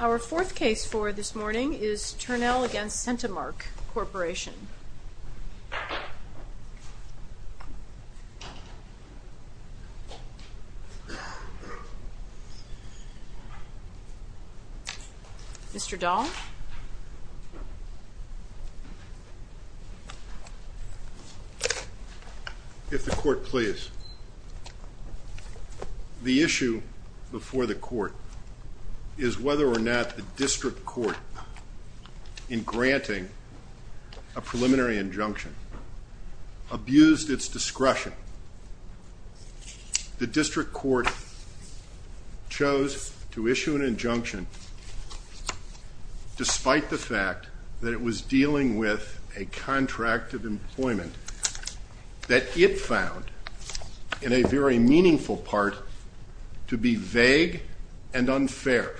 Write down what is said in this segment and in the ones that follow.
Our fourth case for this morning is Turnell v. Centimark Corporation. If the court please. The issue before the court is whether or not the district court in granting a preliminary injunction abused its discretion. The district court chose to issue an injunction despite the fact that it was dealing with a contract of employment that it found, in a very meaningful part, to be vague and unfair.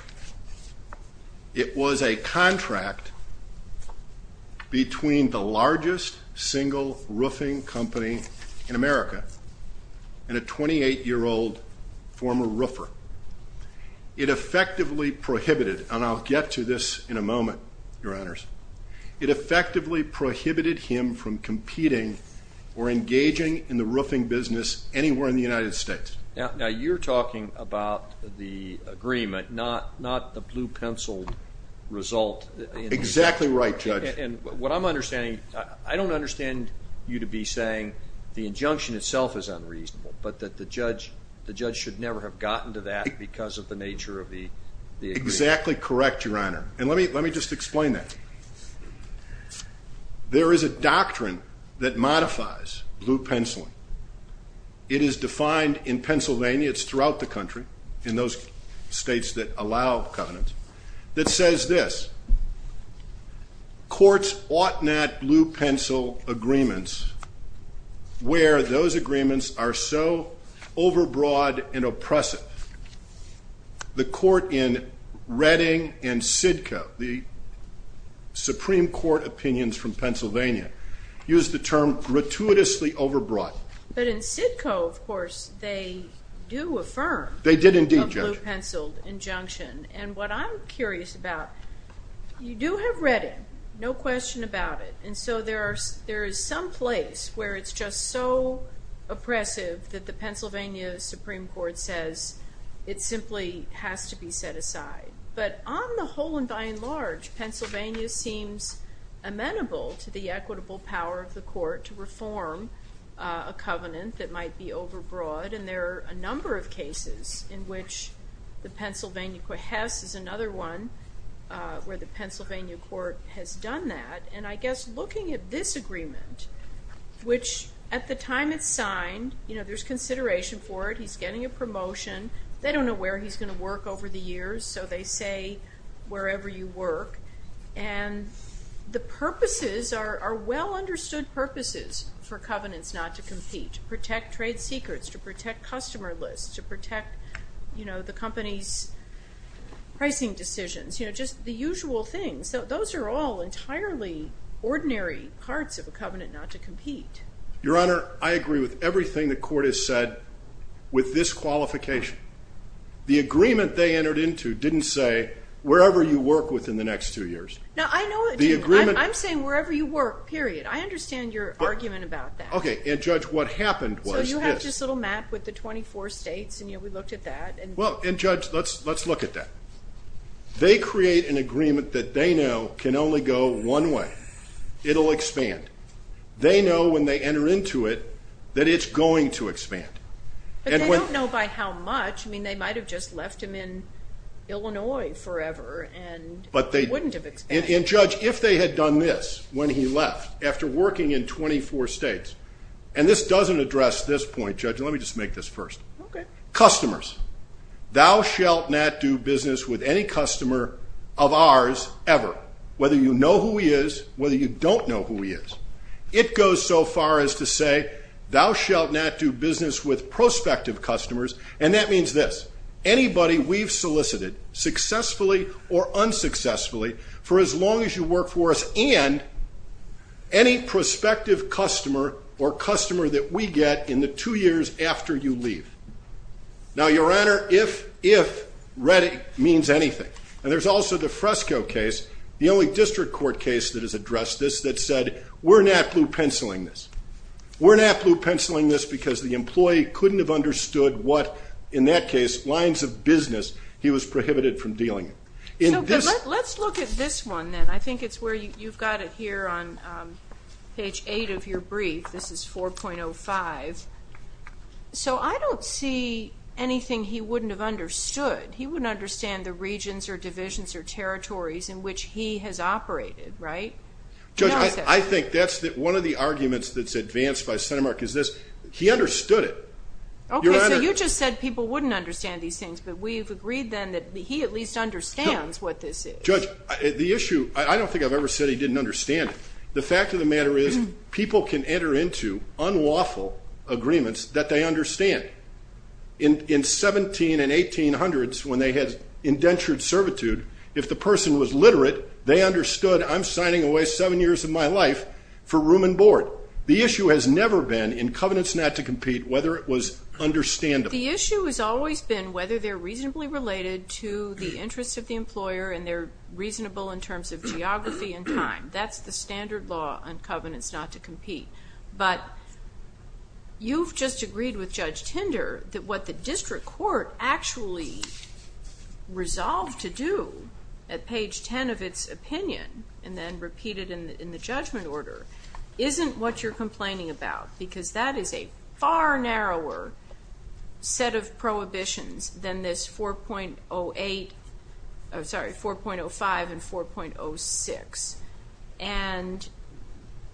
It was a contract between the largest single roofing company in America and a 28-year-old former roofer. It effectively prohibited, and I'll get to this in a moment, your honors, it effectively prohibited him from competing or engaging in the roofing business anywhere in the United States. Now you're talking about the agreement, not the blue-penciled result. Exactly right, Judge. And what I'm understanding, I don't understand you to be saying the injunction itself is unreasonable, but that the judge should never have gotten to that because of the nature of the agreement. Exactly correct, your honor. And let me just explain that. There is a doctrine that modifies blue-penciling. It is defined in Pennsylvania, it's throughout the country, in those states that allow covenants, that says this. Courts ought not blue-pencil agreements where those agreements are so overbroad and oppressive. The court in Redding and Sidco, the Supreme Court opinions from Pennsylvania, use the term gratuitously overbroad. But in Sidco, of course, they do affirm a blue-penciled injunction. And what I'm curious about, you do have Redding, no question about it, and so there is some place where it's just so oppressive that the Pennsylvania Supreme Court says it simply has to be set aside. But on the whole and by and large, Pennsylvania seems amenable to the equitable power of the covenant that might be overbroad. And there are a number of cases in which the Pennsylvania, Hess is another one where the Pennsylvania court has done that. And I guess looking at this agreement, which at the time it's signed, there's consideration for it. He's getting a promotion. They don't know where he's going to work over the years, so they say wherever you work. And the purposes are well-understood purposes for covenants not to compete, to protect trade secrets, to protect customer lists, to protect the company's pricing decisions, just the usual things. So those are all entirely ordinary parts of a covenant not to compete. Your Honor, I agree with everything the court has said with this qualification. The agreement they entered into didn't say wherever you work within the next two years. Now, I know it didn't. I'm saying wherever you work, period. I understand your argument about that. Okay. And Judge, what happened was this. So you have this little map with the 24 states, and we looked at that. Well, and Judge, let's look at that. They create an agreement that they know can only go one way. It'll expand. They know when they enter into it that it's going to expand. But they don't know by how much. I mean, they might have just left him in Illinois forever, and it wouldn't have expanded. And Judge, if they had done this when he left, after working in 24 states, and this doesn't address this point, Judge, let me just make this first. Okay. Customers. Thou shalt not do business with any customer of ours ever, whether you know who he is, whether you don't know who he is. It goes so far as to say, thou shalt not do business with prospective customers. And that means this. Anybody we've solicited, successfully or unsuccessfully, for as long as you work for us, and any prospective customer or customer that we get in the two years after you leave. Now, Your Honor, if, if, ready means anything. And there's also the Fresco case, the only district court case that has addressed this that said, we're not blue-penciling this. We're not blue-penciling this because the employee couldn't have understood what, in that case, lines of business, he was prohibited from dealing in. So, but let's look at this one then. I think it's where you've got it here on page eight of your brief. This is 4.05. So I don't see anything he wouldn't have understood. He wouldn't understand the regions or divisions or territories in which he has operated, right? Judge, I think that's one of the arguments that's advanced by CentiMark is this. He understood it. Okay, so you just said people wouldn't understand these things, but we've agreed then that he at least understands what this is. Judge, the issue, I don't think I've ever said he didn't understand it. The fact of the matter is, people can enter into unlawful agreements that they understand. In 17 and 1800s, when they had indentured servitude, if the person was literate, they would have wasted seven years of my life for room and board. The issue has never been in covenants not to compete whether it was understandable. The issue has always been whether they're reasonably related to the interests of the employer and they're reasonable in terms of geography and time. That's the standard law on covenants not to compete. But you've just agreed with Judge Tinder that what the district court actually resolved to do at page 10 of its opinion and then repeated in the judgment order isn't what you're complaining about because that is a far narrower set of prohibitions than this 4.05 and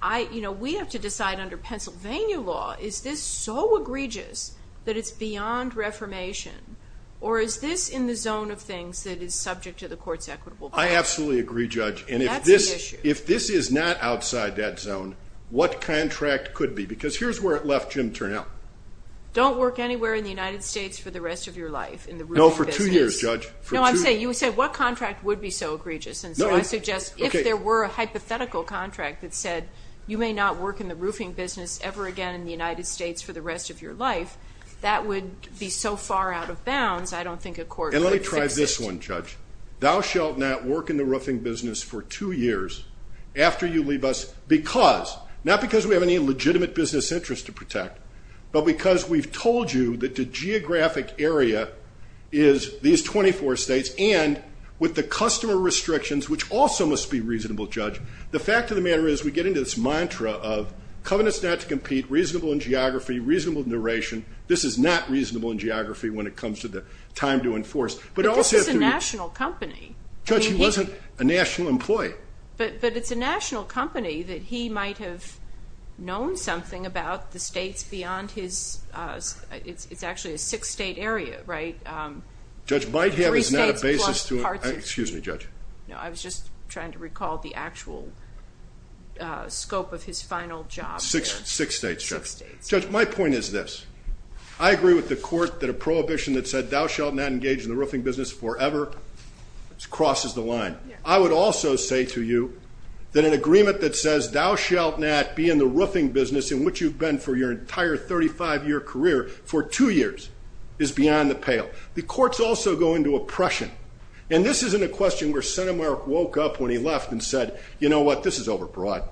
4.06. We have to decide under Pennsylvania law, is this so egregious that it's beyond reformation or is this in the zone of things that is subject to the court's equitable plan? I absolutely agree, Judge. That's the issue. If this is not outside that zone, what contract could be? Because here's where it left Jim Turnell. Don't work anywhere in the United States for the rest of your life in the roofing business. No, for two years, Judge. No, I'm saying, you said what contract would be so egregious and so I suggest if there were a hypothetical contract that said you may not work in the roofing business ever again in the United States for the rest of your life, that would be so far out of bounds, I don't think a court could fix it. And let me try this one, Judge. Thou shalt not work in the roofing business for two years after you leave us because, not because we have any legitimate business interest to protect, but because we've told you that the geographic area is these 24 states and with the customer restrictions, which also must be reasonable, Judge, the fact of the matter is we get into this mantra of covenants this is not to compete, reasonable in geography, reasonable in narration, this is not reasonable in geography when it comes to the time to enforce. But this is a national company. Judge, he wasn't a national employee. But it's a national company that he might have known something about the states beyond his, it's actually a six state area, right? Judge might have, it's not a basis to, excuse me, Judge. No, I was just trying to recall the actual scope of his final job there. Six states, Judge. Six states. Judge, my point is this. I agree with the court that a prohibition that said thou shalt not engage in the roofing business forever crosses the line. I would also say to you that an agreement that says thou shalt not be in the roofing business in which you've been for your entire 35 year career for two years is beyond the pale. The courts also go into oppression. And this isn't a question where Senator Merrick woke up when he left and said, you know what, this is over broad.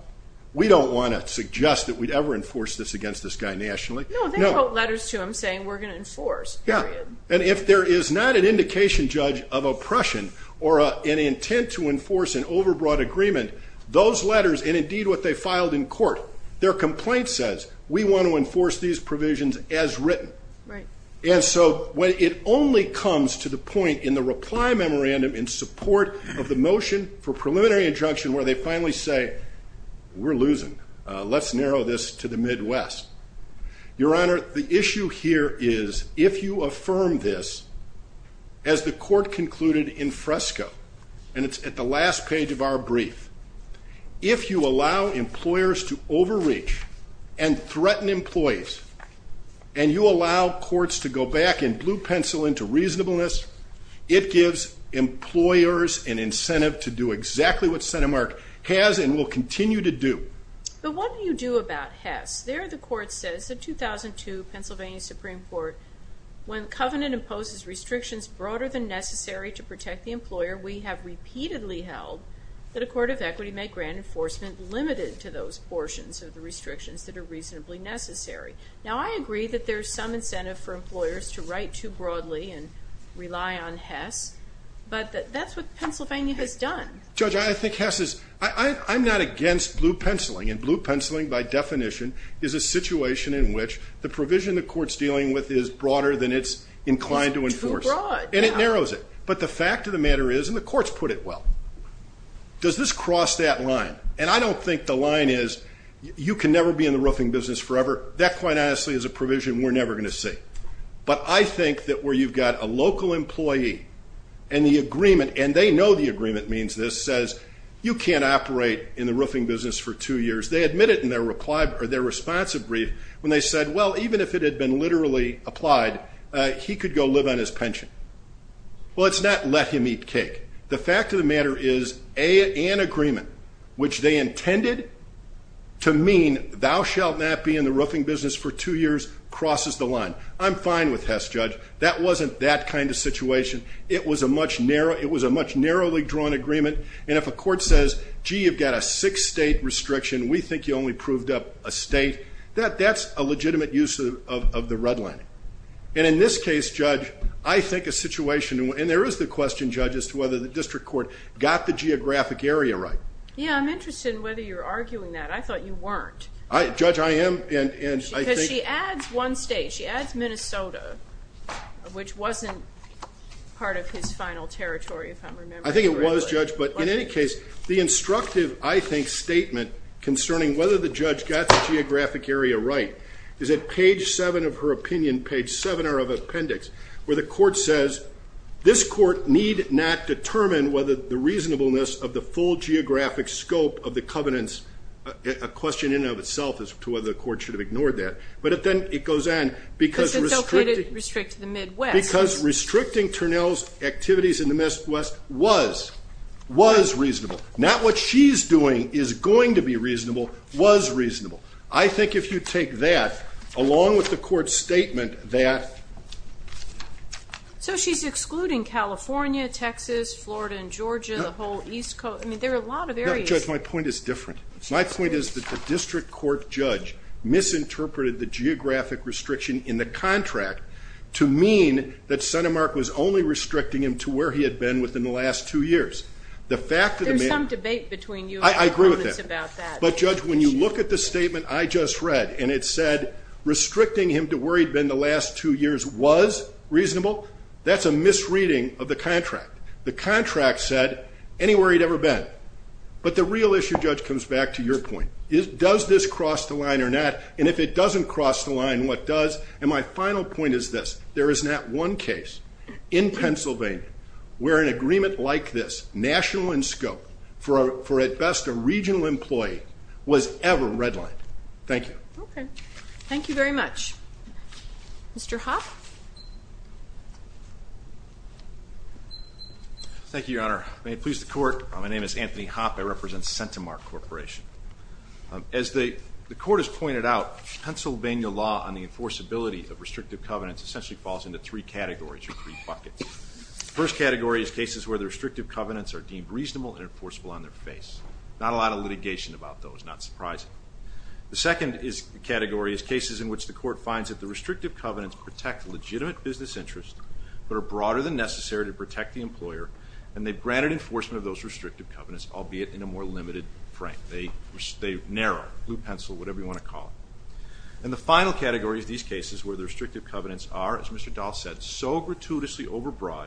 We don't want to suggest that we'd ever enforce this against this guy nationally. No, they wrote letters to him saying we're going to enforce. Yeah. And if there is not an indication, Judge, of oppression or an intent to enforce an over broad agreement, those letters and indeed what they filed in court, their complaint says we want to enforce these provisions as written. Right. And so when it only comes to the point in the reply memorandum in support of the motion for preliminary injunction, where they finally say we're losing, let's narrow this to the Midwest. Your Honor, the issue here is if you affirm this as the court concluded in Fresco and it's at the last page of our brief, if you allow employers to overreach and threaten employees and you allow courts to go back and blue pencil into reasonableness, it gives employers an incentive to do exactly what Senate Mark has and will continue to do. But what do you do about Hess? There the court says the 2002 Pennsylvania Supreme Court, when covenant imposes restrictions broader than necessary to protect the employer, we have repeatedly held that a court of equity may grant enforcement limited to those portions of the restrictions that are reasonably necessary. Now I agree that there's some incentive for employers to write too broadly and rely on But that's what Pennsylvania has done. Judge, I think Hess is, I'm not against blue penciling and blue penciling by definition is a situation in which the provision the court's dealing with is broader than it's inclined to enforce. It's too broad. And it narrows it. But the fact of the matter is, and the courts put it well, does this cross that line? And I don't think the line is you can never be in the roofing business forever. That quite honestly is a provision we're never going to see. But I think that where you've got a local employee and the agreement, and they know the agreement means this, says you can't operate in the roofing business for two years. They admit it in their reply or their responsive brief when they said, well, even if it had been literally applied, he could go live on his pension. Well, it's not let him eat cake. The fact of the matter is an agreement which they intended to mean thou shalt not be in the roofing business for two years crosses the line. I'm fine with Hess, Judge. That wasn't that kind of situation. It was a much narrowly drawn agreement. And if a court says, gee, you've got a six state restriction, we think you only proved up a state, that's a legitimate use of the redlining. And in this case, Judge, I think a situation, and there is the question, Judge, as to whether the district court got the geographic area right. Yeah, I'm interested in whether you're arguing that. I thought you weren't. Judge, I am. Because she adds one state. She adds two states. She adds Minnesota, which wasn't part of his final territory, if I'm remembering correctly. I think it was, Judge, but in any case, the instructive, I think, statement concerning whether the judge got the geographic area right is at page seven of her opinion, page seven of her appendix, where the court says, this court need not determine whether the reasonableness of the full geographic scope of the covenants, a question in and of itself as to whether the court should have ignored that. But then it goes on, because restricting, because restricting Turnell's activities in the Midwest was, was reasonable. Not what she's doing is going to be reasonable, was reasonable. I think if you take that, along with the court's statement that, so she's excluding California, Texas, Florida, and Georgia, the whole East Coast, I mean, there are a lot of areas. No, Judge, my point is different. My point is that the district court judge misinterpreted the geographic restriction in the contract to mean that CentiMark was only restricting him to where he had been within the last two years. The fact that- There's some debate between you and the covenants about that. I agree with that. But, Judge, when you look at the statement I just read, and it said restricting him to where he'd been the last two years was reasonable, that's a misreading of the contract. The contract said anywhere he'd ever been. But the real issue, Judge, comes back to your point. Does this cross the line or not? And if it doesn't cross the line, what does? And my final point is this. There is not one case in Pennsylvania where an agreement like this, national in scope, for at best a regional employee, was ever redlined. Thank you. Thank you very much. Mr. Huff? Thank you, Your Honor. May it please the court. My name is Anthony Hoppe. I represent CentiMark Corporation. As the court has pointed out, Pennsylvania law on the enforceability of restrictive covenants essentially falls into three categories or three buckets. The first category is cases where the restrictive covenants are deemed reasonable and enforceable on their face. Not a lot of litigation about those, not surprising. The second category is cases in which the court finds that the restrictive covenants protect legitimate business interest but are broader than necessary to protect the employer and they've granted enforcement of those restrictive covenants, albeit in a more limited frame. They narrow, blue pencil, whatever you want to call it. And the final category of these cases where the restrictive covenants are, as Mr. Dahl said, so gratuitously overbroad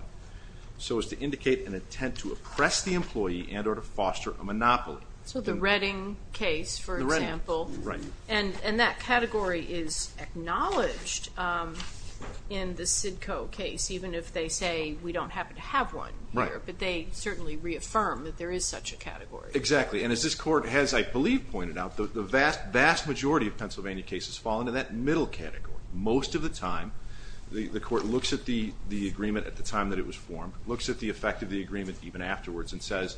so as to indicate an intent to oppress the employee and or to foster a monopoly. So the Redding case, for example. And that category is acknowledged in the Cidco case, even if they say we don't happen to have one here. But they certainly reaffirm that there is such a category. Exactly. And as this court has, I believe, pointed out, the vast majority of Pennsylvania cases fall into that middle category. Most of the time, the court looks at the agreement at the time that it was formed, looks at the effect of the agreement even afterwards and says,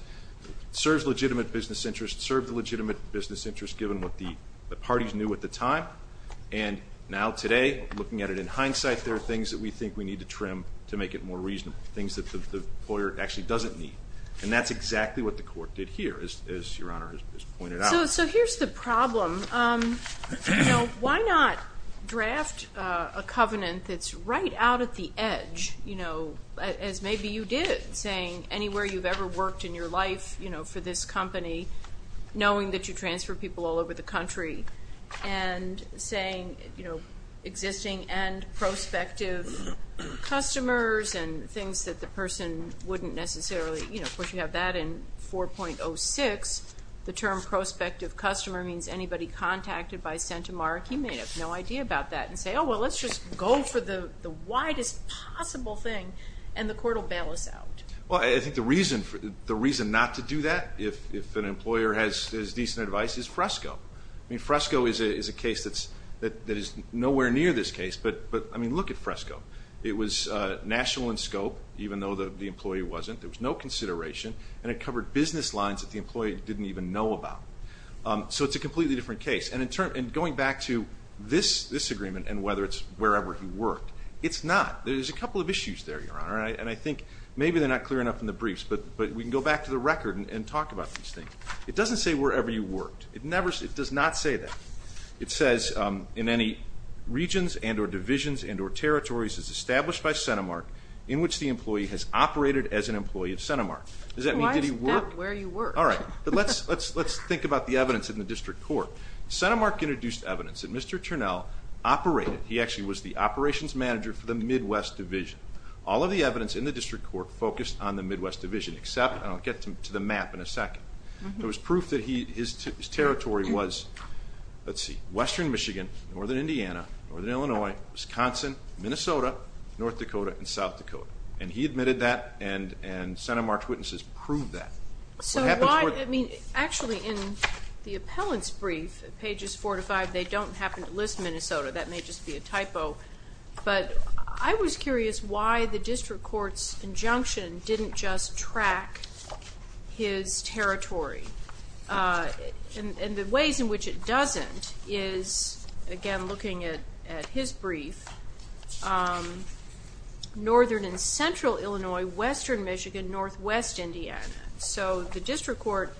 serves legitimate business interest, served the legitimate business interest given what the parties knew at the time. And now today, looking at it in hindsight, there are things that we think we need to the employer actually doesn't need. And that's exactly what the court did here, as Your Honor has pointed out. So here's the problem. Why not draft a covenant that's right out at the edge, as maybe you did, saying anywhere you've ever worked in your life for this company, knowing that you transfer people all over the country and saying, you know, existing and prospective customers and things that the person wouldn't necessarily, you know, of course, you have that in 4.06. The term prospective customer means anybody contacted by CentiMark, he may have no idea about that and say, oh, well, let's just go for the widest possible thing and the court will bail us out. Well, I think the reason not to do that, if an employer has decent advice, is Fresco. I mean, Fresco is a case that is nowhere near this case, but I mean, look at Fresco. It was national in scope, even though the employee wasn't. There was no consideration, and it covered business lines that the employee didn't even know about. So it's a completely different case. And going back to this agreement and whether it's wherever he worked, it's not. There's a couple of issues there, Your Honor. And I think maybe they're not clear enough in the briefs, but we can go back to the record and talk about these things. It doesn't say wherever you worked. It never, it does not say that. It says in any regions and or divisions and or territories as established by CentiMark in which the employee has operated as an employee of CentiMark. Does that mean did he work? Well, why is that where you worked? All right. But let's think about the evidence in the district court. CentiMark introduced evidence that Mr. Turnell operated, he actually was the operations manager for the Midwest division. All of the evidence in the district court focused on the Midwest division, except, and I'll get to the map in a second, there was proof that his territory was, let's see, western Michigan, northern Indiana, northern Illinois, Wisconsin, Minnesota, North Dakota, and South Dakota. And he admitted that, and CentiMark's witnesses proved that. So why, I mean, actually in the appellant's brief, pages four to five, they don't happen to list Minnesota. That may just be a typo. But I was curious why the district court's injunction didn't just track his territory. And the ways in which it doesn't is, again, looking at his brief, northern and central Illinois, western Michigan, northwest Indiana. So the district court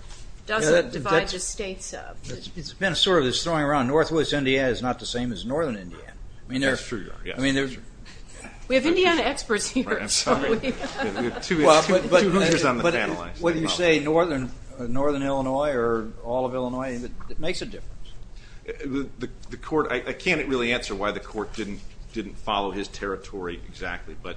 doesn't divide the states up. It's been sort of this throwing around, northwest Indiana is not the same as northern Indiana. That's true, yes. I mean, there's... We have Indiana experts here, I'm sorry. We have two experts on the panel, actually. But whether you say northern Illinois or all of Illinois, it makes a difference. The court, I can't really answer why the court didn't follow his territory exactly, but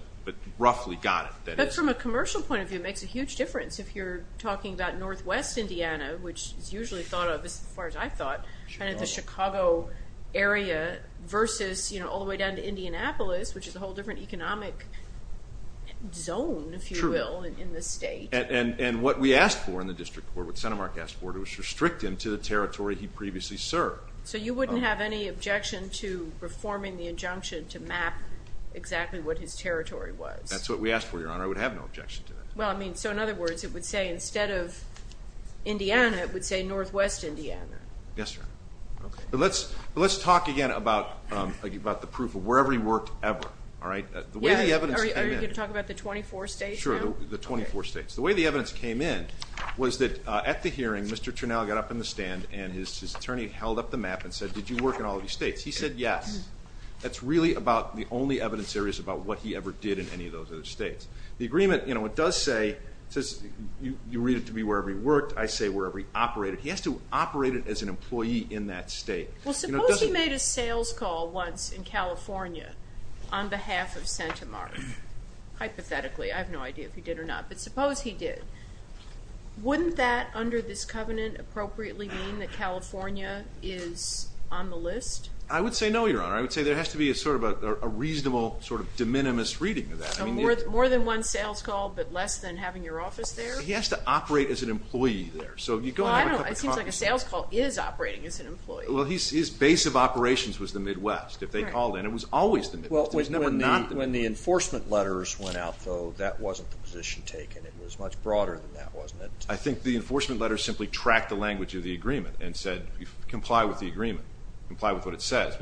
roughly got it. But from a commercial point of view, it makes a huge difference if you're talking about northwest Indiana, which is usually thought of, as far as I've thought, kind of the Chicago area versus, you know, all the way down to Indianapolis, which is a whole different economic zone, if you will, in the state. And what we asked for in the district court, what CentiMark asked for, was to restrict him to the territory he previously served. So you wouldn't have any objection to reforming the injunction to map exactly what his territory was? That's what we asked for, Your Honor. I would have no objection to that. Well, I mean, so in other words, it would say instead of Indiana, it would say northwest Indiana. Yes, Your Honor. Okay. But let's talk again about the proof of wherever he worked ever, all right? Are you going to talk about the 24 states now? Sure, the 24 states. The way the evidence came in was that at the hearing, Mr. Turnell got up in the stand and his attorney held up the map and said, did you work in all of these states? He said, yes. That's really about the only evidence there is about what he ever did in any of those other states. The agreement, you know, it does say, it says you read it to me wherever he worked, I say wherever he operated. He has to operate it as an employee in that state. Well, suppose he made a sales call once in California on behalf of CentiMark. Hypothetically, I have no idea if he did or not, but suppose he did. Wouldn't that under this covenant appropriately mean that California is on the list? I would say no, Your Honor. I would say there has to be a sort of a reasonable sort of de minimis reading of that. More than one sales call, but less than having your office there? He has to operate as an employee there. Well, I don't know. It seems like a sales call is operating as an employee. Well, his base of operations was the Midwest, if they called in. It was always the Midwest. It was never not the Midwest. Well, when the enforcement letters went out, though, that wasn't the position taken. It was much broader than that, wasn't it? I think the enforcement letters simply tracked the language of the agreement and said, comply with the agreement. Comply with what it says.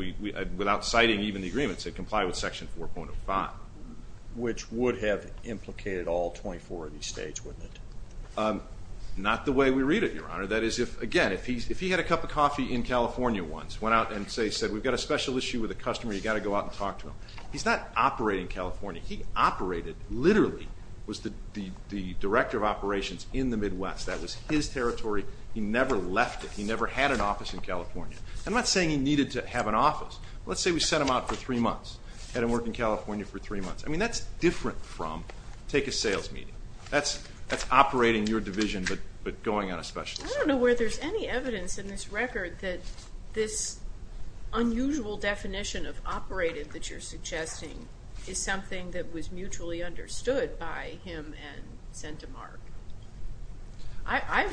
Without citing even the agreement, it said comply with Section 4.05. Which would have implicated all 24 of these states, wouldn't it? Not the way we read it, Your Honor. That is, again, if he had a cup of coffee in California once, went out and said, we've got a special issue with a customer, you've got to go out and talk to him, he's not operating California. He operated, literally, was the director of operations in the Midwest. That was his territory. He never left it. He never had an office in California. I'm not saying he needed to have an office. Let's say we sent him out for three months, had him work in California for three months. I mean, that's different from take a sales meeting. That's operating your division, but going on a special assignment. I don't know where there's any evidence in this record that this unusual definition of operated that you're suggesting is something that was mutually understood by him and CentiMark. I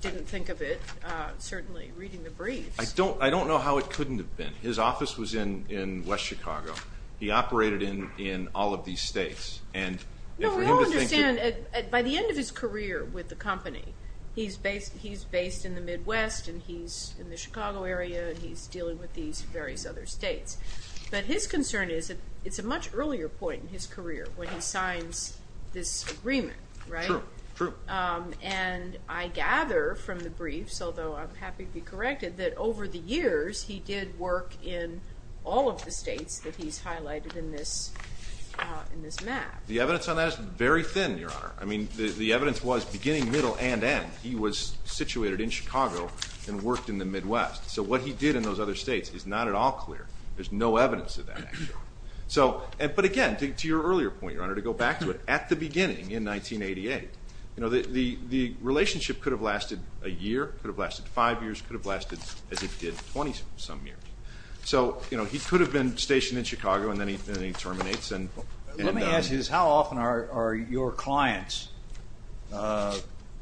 didn't think of it, certainly, reading the briefs. I don't know how it couldn't have been. His office was in West Chicago. He operated in all of these states. No, we all understand, by the end of his career with the company, he's based in the Midwest and he's in the Chicago area and he's dealing with these various other states, but his concern is that it's a much earlier point in his career when he signs this agreement, right? True. True. And I gather from the briefs, although I'm happy to be corrected, that over the years he did work in all of the states that he's highlighted in this map. The evidence on that is very thin, Your Honor. I mean, the evidence was beginning, middle, and end. He was situated in Chicago and worked in the Midwest, so what he did in those other states is not at all clear. There's no evidence of that, actually. But again, to your earlier point, Your Honor, to go back to it, at the beginning in 1988, the relationship could have lasted a year, could have lasted five years, could have lasted as it did 20-some years. So he could have been stationed in Chicago and then he terminates and... Let me ask you this. How often are your clients,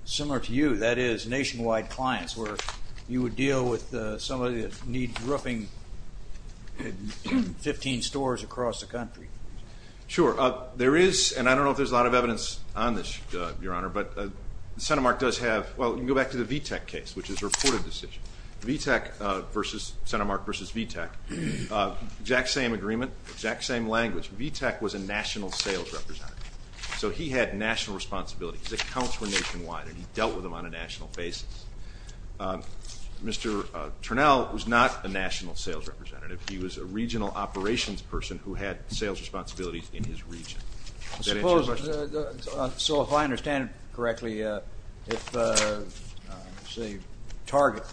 similar to you, that is, nationwide clients, where you would deal with somebody that needs roofing at 15 stores across the country? Sure. There is, and I don't know if there's a lot of evidence on this, Your Honor, but CentiMark does have... VTAC versus, CentiMark versus VTAC, exact same agreement, exact same language. VTAC was a national sales representative, so he had national responsibilities. His accounts were nationwide and he dealt with them on a national basis. Mr. Turnell was not a national sales representative. He was a regional operations person who had sales responsibilities in his region. So if I understand correctly, if, say, Target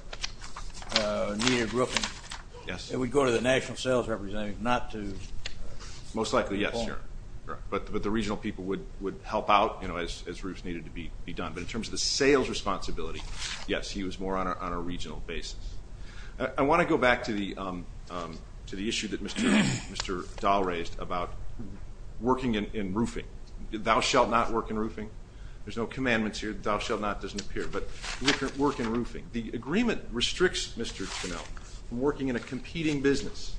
needed roofing, it would go to the national sales representative, not to... Most likely, yes, Your Honor, but the regional people would help out, you know, as roofs needed to be done. But in terms of the sales responsibility, yes, he was more on a regional basis. I want to go back to the issue that Mr. Dahl raised about working in roofing. Thou shalt not work in roofing. There's no commandments here. Thou shalt not doesn't appear, but work in roofing. The agreement restricts Mr. Turnell from working in a competing business.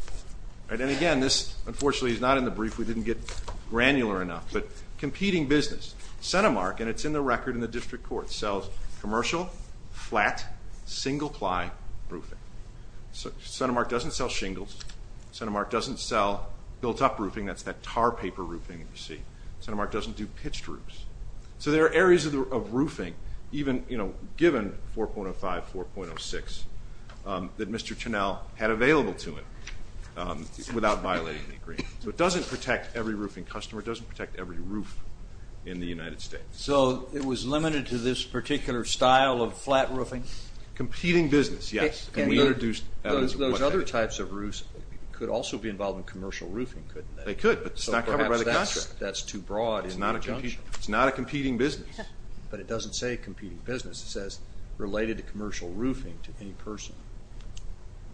And again, this, unfortunately, is not in the brief. We didn't get granular enough, but competing business, CentiMark, and it's in the record in the district court, sells commercial, flat, single-ply roofing. CentiMark doesn't sell shingles. CentiMark doesn't sell built-up roofing. That's that tar paper roofing that you see. CentiMark doesn't do pitched roofs. So there are areas of roofing, even, you know, given 4.05, 4.06, that Mr. Turnell had available to him without violating the agreement. So it doesn't protect every roofing customer. It doesn't protect every roof in the United States. So it was limited to this particular style of flat roofing? Competing business, yes. And we introduced... Those other types of roofs could also be involved in commercial roofing, couldn't they? They could, but it's not covered by the contract. That's too broad. It's not a competing business. But it doesn't say competing business. It says related to commercial roofing to any person.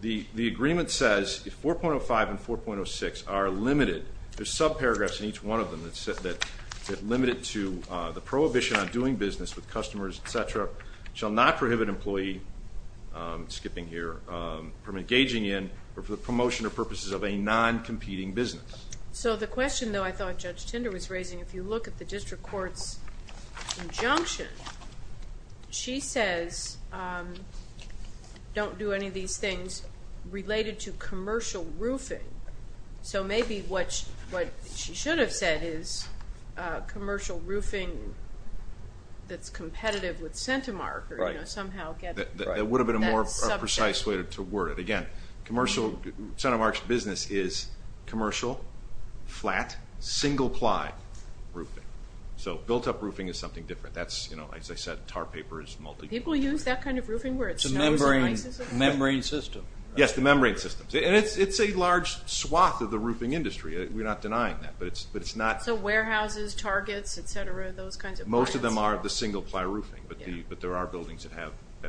The agreement says if 4.05 and 4.06 are limited, there's sub-paragraphs in each one of them that limit it to the prohibition on doing business with customers, et cetera, shall not prohibit an employee, skipping here, from engaging in or for the promotion or purposes of a non-competing business. So the question, though, I thought Judge Tinder was raising, if you look at the district court's injunction, she says don't do any of these things related to commercial roofing. So maybe what she should have said is commercial roofing that's competitive with CentiMark or somehow get... Right. That would have been a more precise way to word it. Again, CentiMark's business is commercial, flat, single-ply roofing. So built-up roofing is something different. That's, as I said, tar paper is multi-... People use that kind of roofing where it's... Membrane system. Yes, the membrane system. It's a large swath of the roofing industry. We're not denying that, but it's not... So warehouses, targets, et cetera, those kinds of points. Most of them are the single-ply roofing, but there are buildings that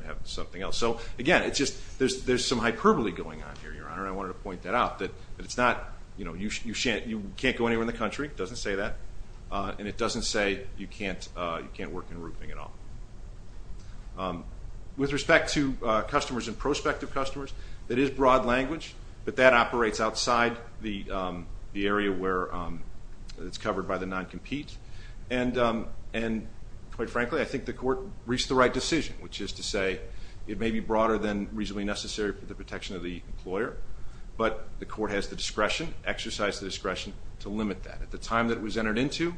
have something else. So again, it's just there's some hyperbole going on here, Your Honor, and I wanted to point that out, that it's not... You can't go anywhere in the country, it doesn't say that, and it doesn't say you can't work in roofing at all. With respect to customers and prospective customers, that is broad language, but that operates outside the area where it's covered by the non-compete. And quite frankly, I think the court reached the right decision, which is to say it may be broader than reasonably necessary for the protection of the employer, but the court has the discretion, exercise the discretion, to limit that. At the time that it was entered into,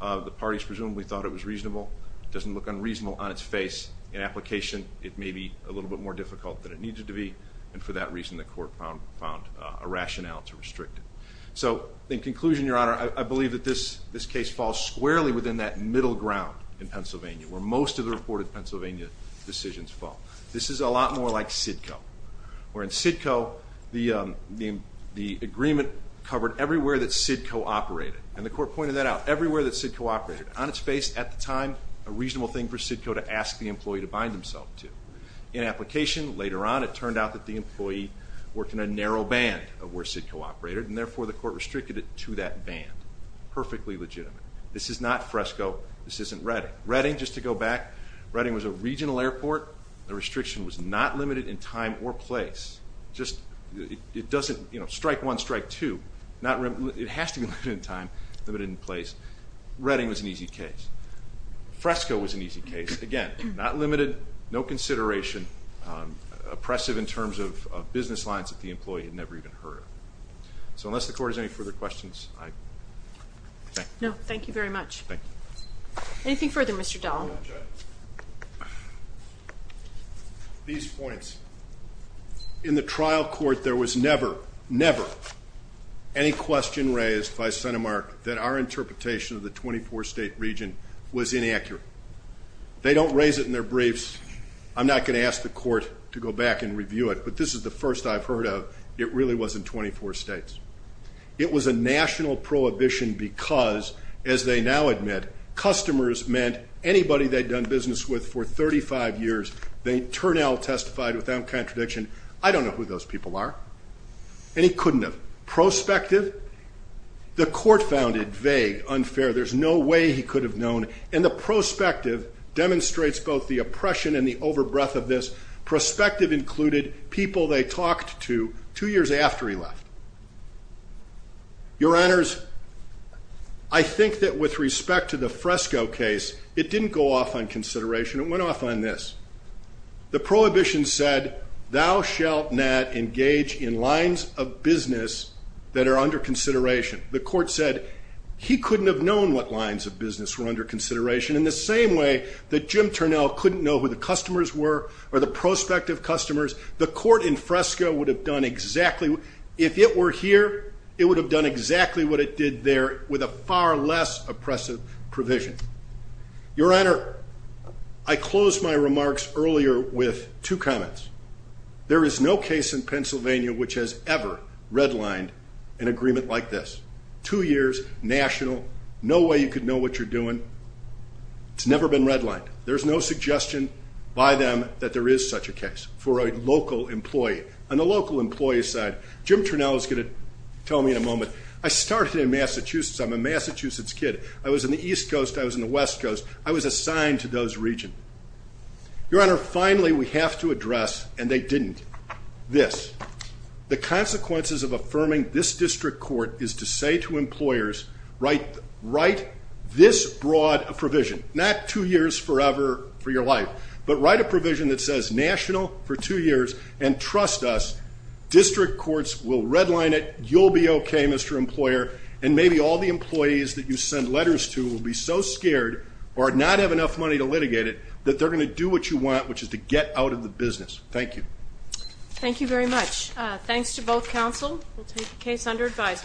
the parties presumably thought it was reasonable. It doesn't look unreasonable on its face. In application, it may be a little bit more difficult than it needed to be, and for that reason the court found a rationale to restrict it. So in conclusion, Your Honor, I believe that this case falls squarely within that middle ground in Pennsylvania, where most of the reported Pennsylvania decisions fall. This is a lot more like SIDCO, where in SIDCO, the agreement covered everywhere that SIDCO operated, and the court pointed that out. Everywhere that SIDCO operated, on its face, at the time, a reasonable thing for SIDCO to ask the employee to bind himself to. In application, later on, it turned out that the employee worked in a narrow band of where SIDCO operated, and therefore the court restricted it to that band. Perfectly legitimate. This is not Fresco. This isn't Redding. Redding, just to go back, Redding was a regional airport. The restriction was not limited in time or place. Just, it doesn't, you know, strike one, strike two. It has to be limited in time, limited in place. Redding was an easy case. Fresco was an easy case. Again, not limited, no consideration, oppressive in terms of business lines that the employee had never even heard of. So unless the court has any further questions, I thank you. No, thank you very much. Anything further, Mr. Dahl? These points. In the trial court, there was never, never, any question raised by CentiMark that our interpretation of the 24 state region was inaccurate. They don't raise it in their briefs. I'm not going to ask the court to go back and review it, but this is the first I've heard of. It really was in 24 states. It was a national prohibition because, as they now admit, customers meant anybody they'd done business with for 35 years, they'd turn out, testified without contradiction, I don't know who those people are. And he couldn't have. Prospective? The court found it vague, unfair, there's no way he could have known, and the prospective demonstrates both the oppression and the overbreath of this. Prospective included people they talked to two years after he left. Your honors, I think that with respect to the Fresco case, it didn't go off on consideration. It went off on this. The prohibition said, thou shalt not engage in lines of business that are under consideration. The court said he couldn't have known what lines of business were under consideration in the same way that Jim Turnell couldn't know who the customers were or the prospective customers. The court in Fresco would have done exactly, if it were here, it would have done exactly what it did there with a far less oppressive provision. Your honor, I closed my remarks earlier with two comments. There is no case in Pennsylvania which has ever redlined an agreement like this. Two years, national, no way you could know what you're doing, it's never been redlined. There's no suggestion by them that there is such a case for a local employee. On the local employee side, Jim Turnell is going to tell me in a moment, I started in Massachusetts, I'm a Massachusetts kid. I was in the East Coast, I was in the West Coast, I was assigned to those regions. Your honor, finally we have to address, and they didn't, this. The consequences of affirming this district court is to say to employers, write this broad provision, not two years forever for your life, but write a provision that says national for two years and trust us, district courts will redline it, you'll be okay, Mr. Employer, and maybe all the employees that you send letters to will be so scared or not have enough money to litigate it that they're going to do what you want, which is to get out of the business. Thank you. Thank you very much. Thanks to both counsel, we'll take the case under advisement.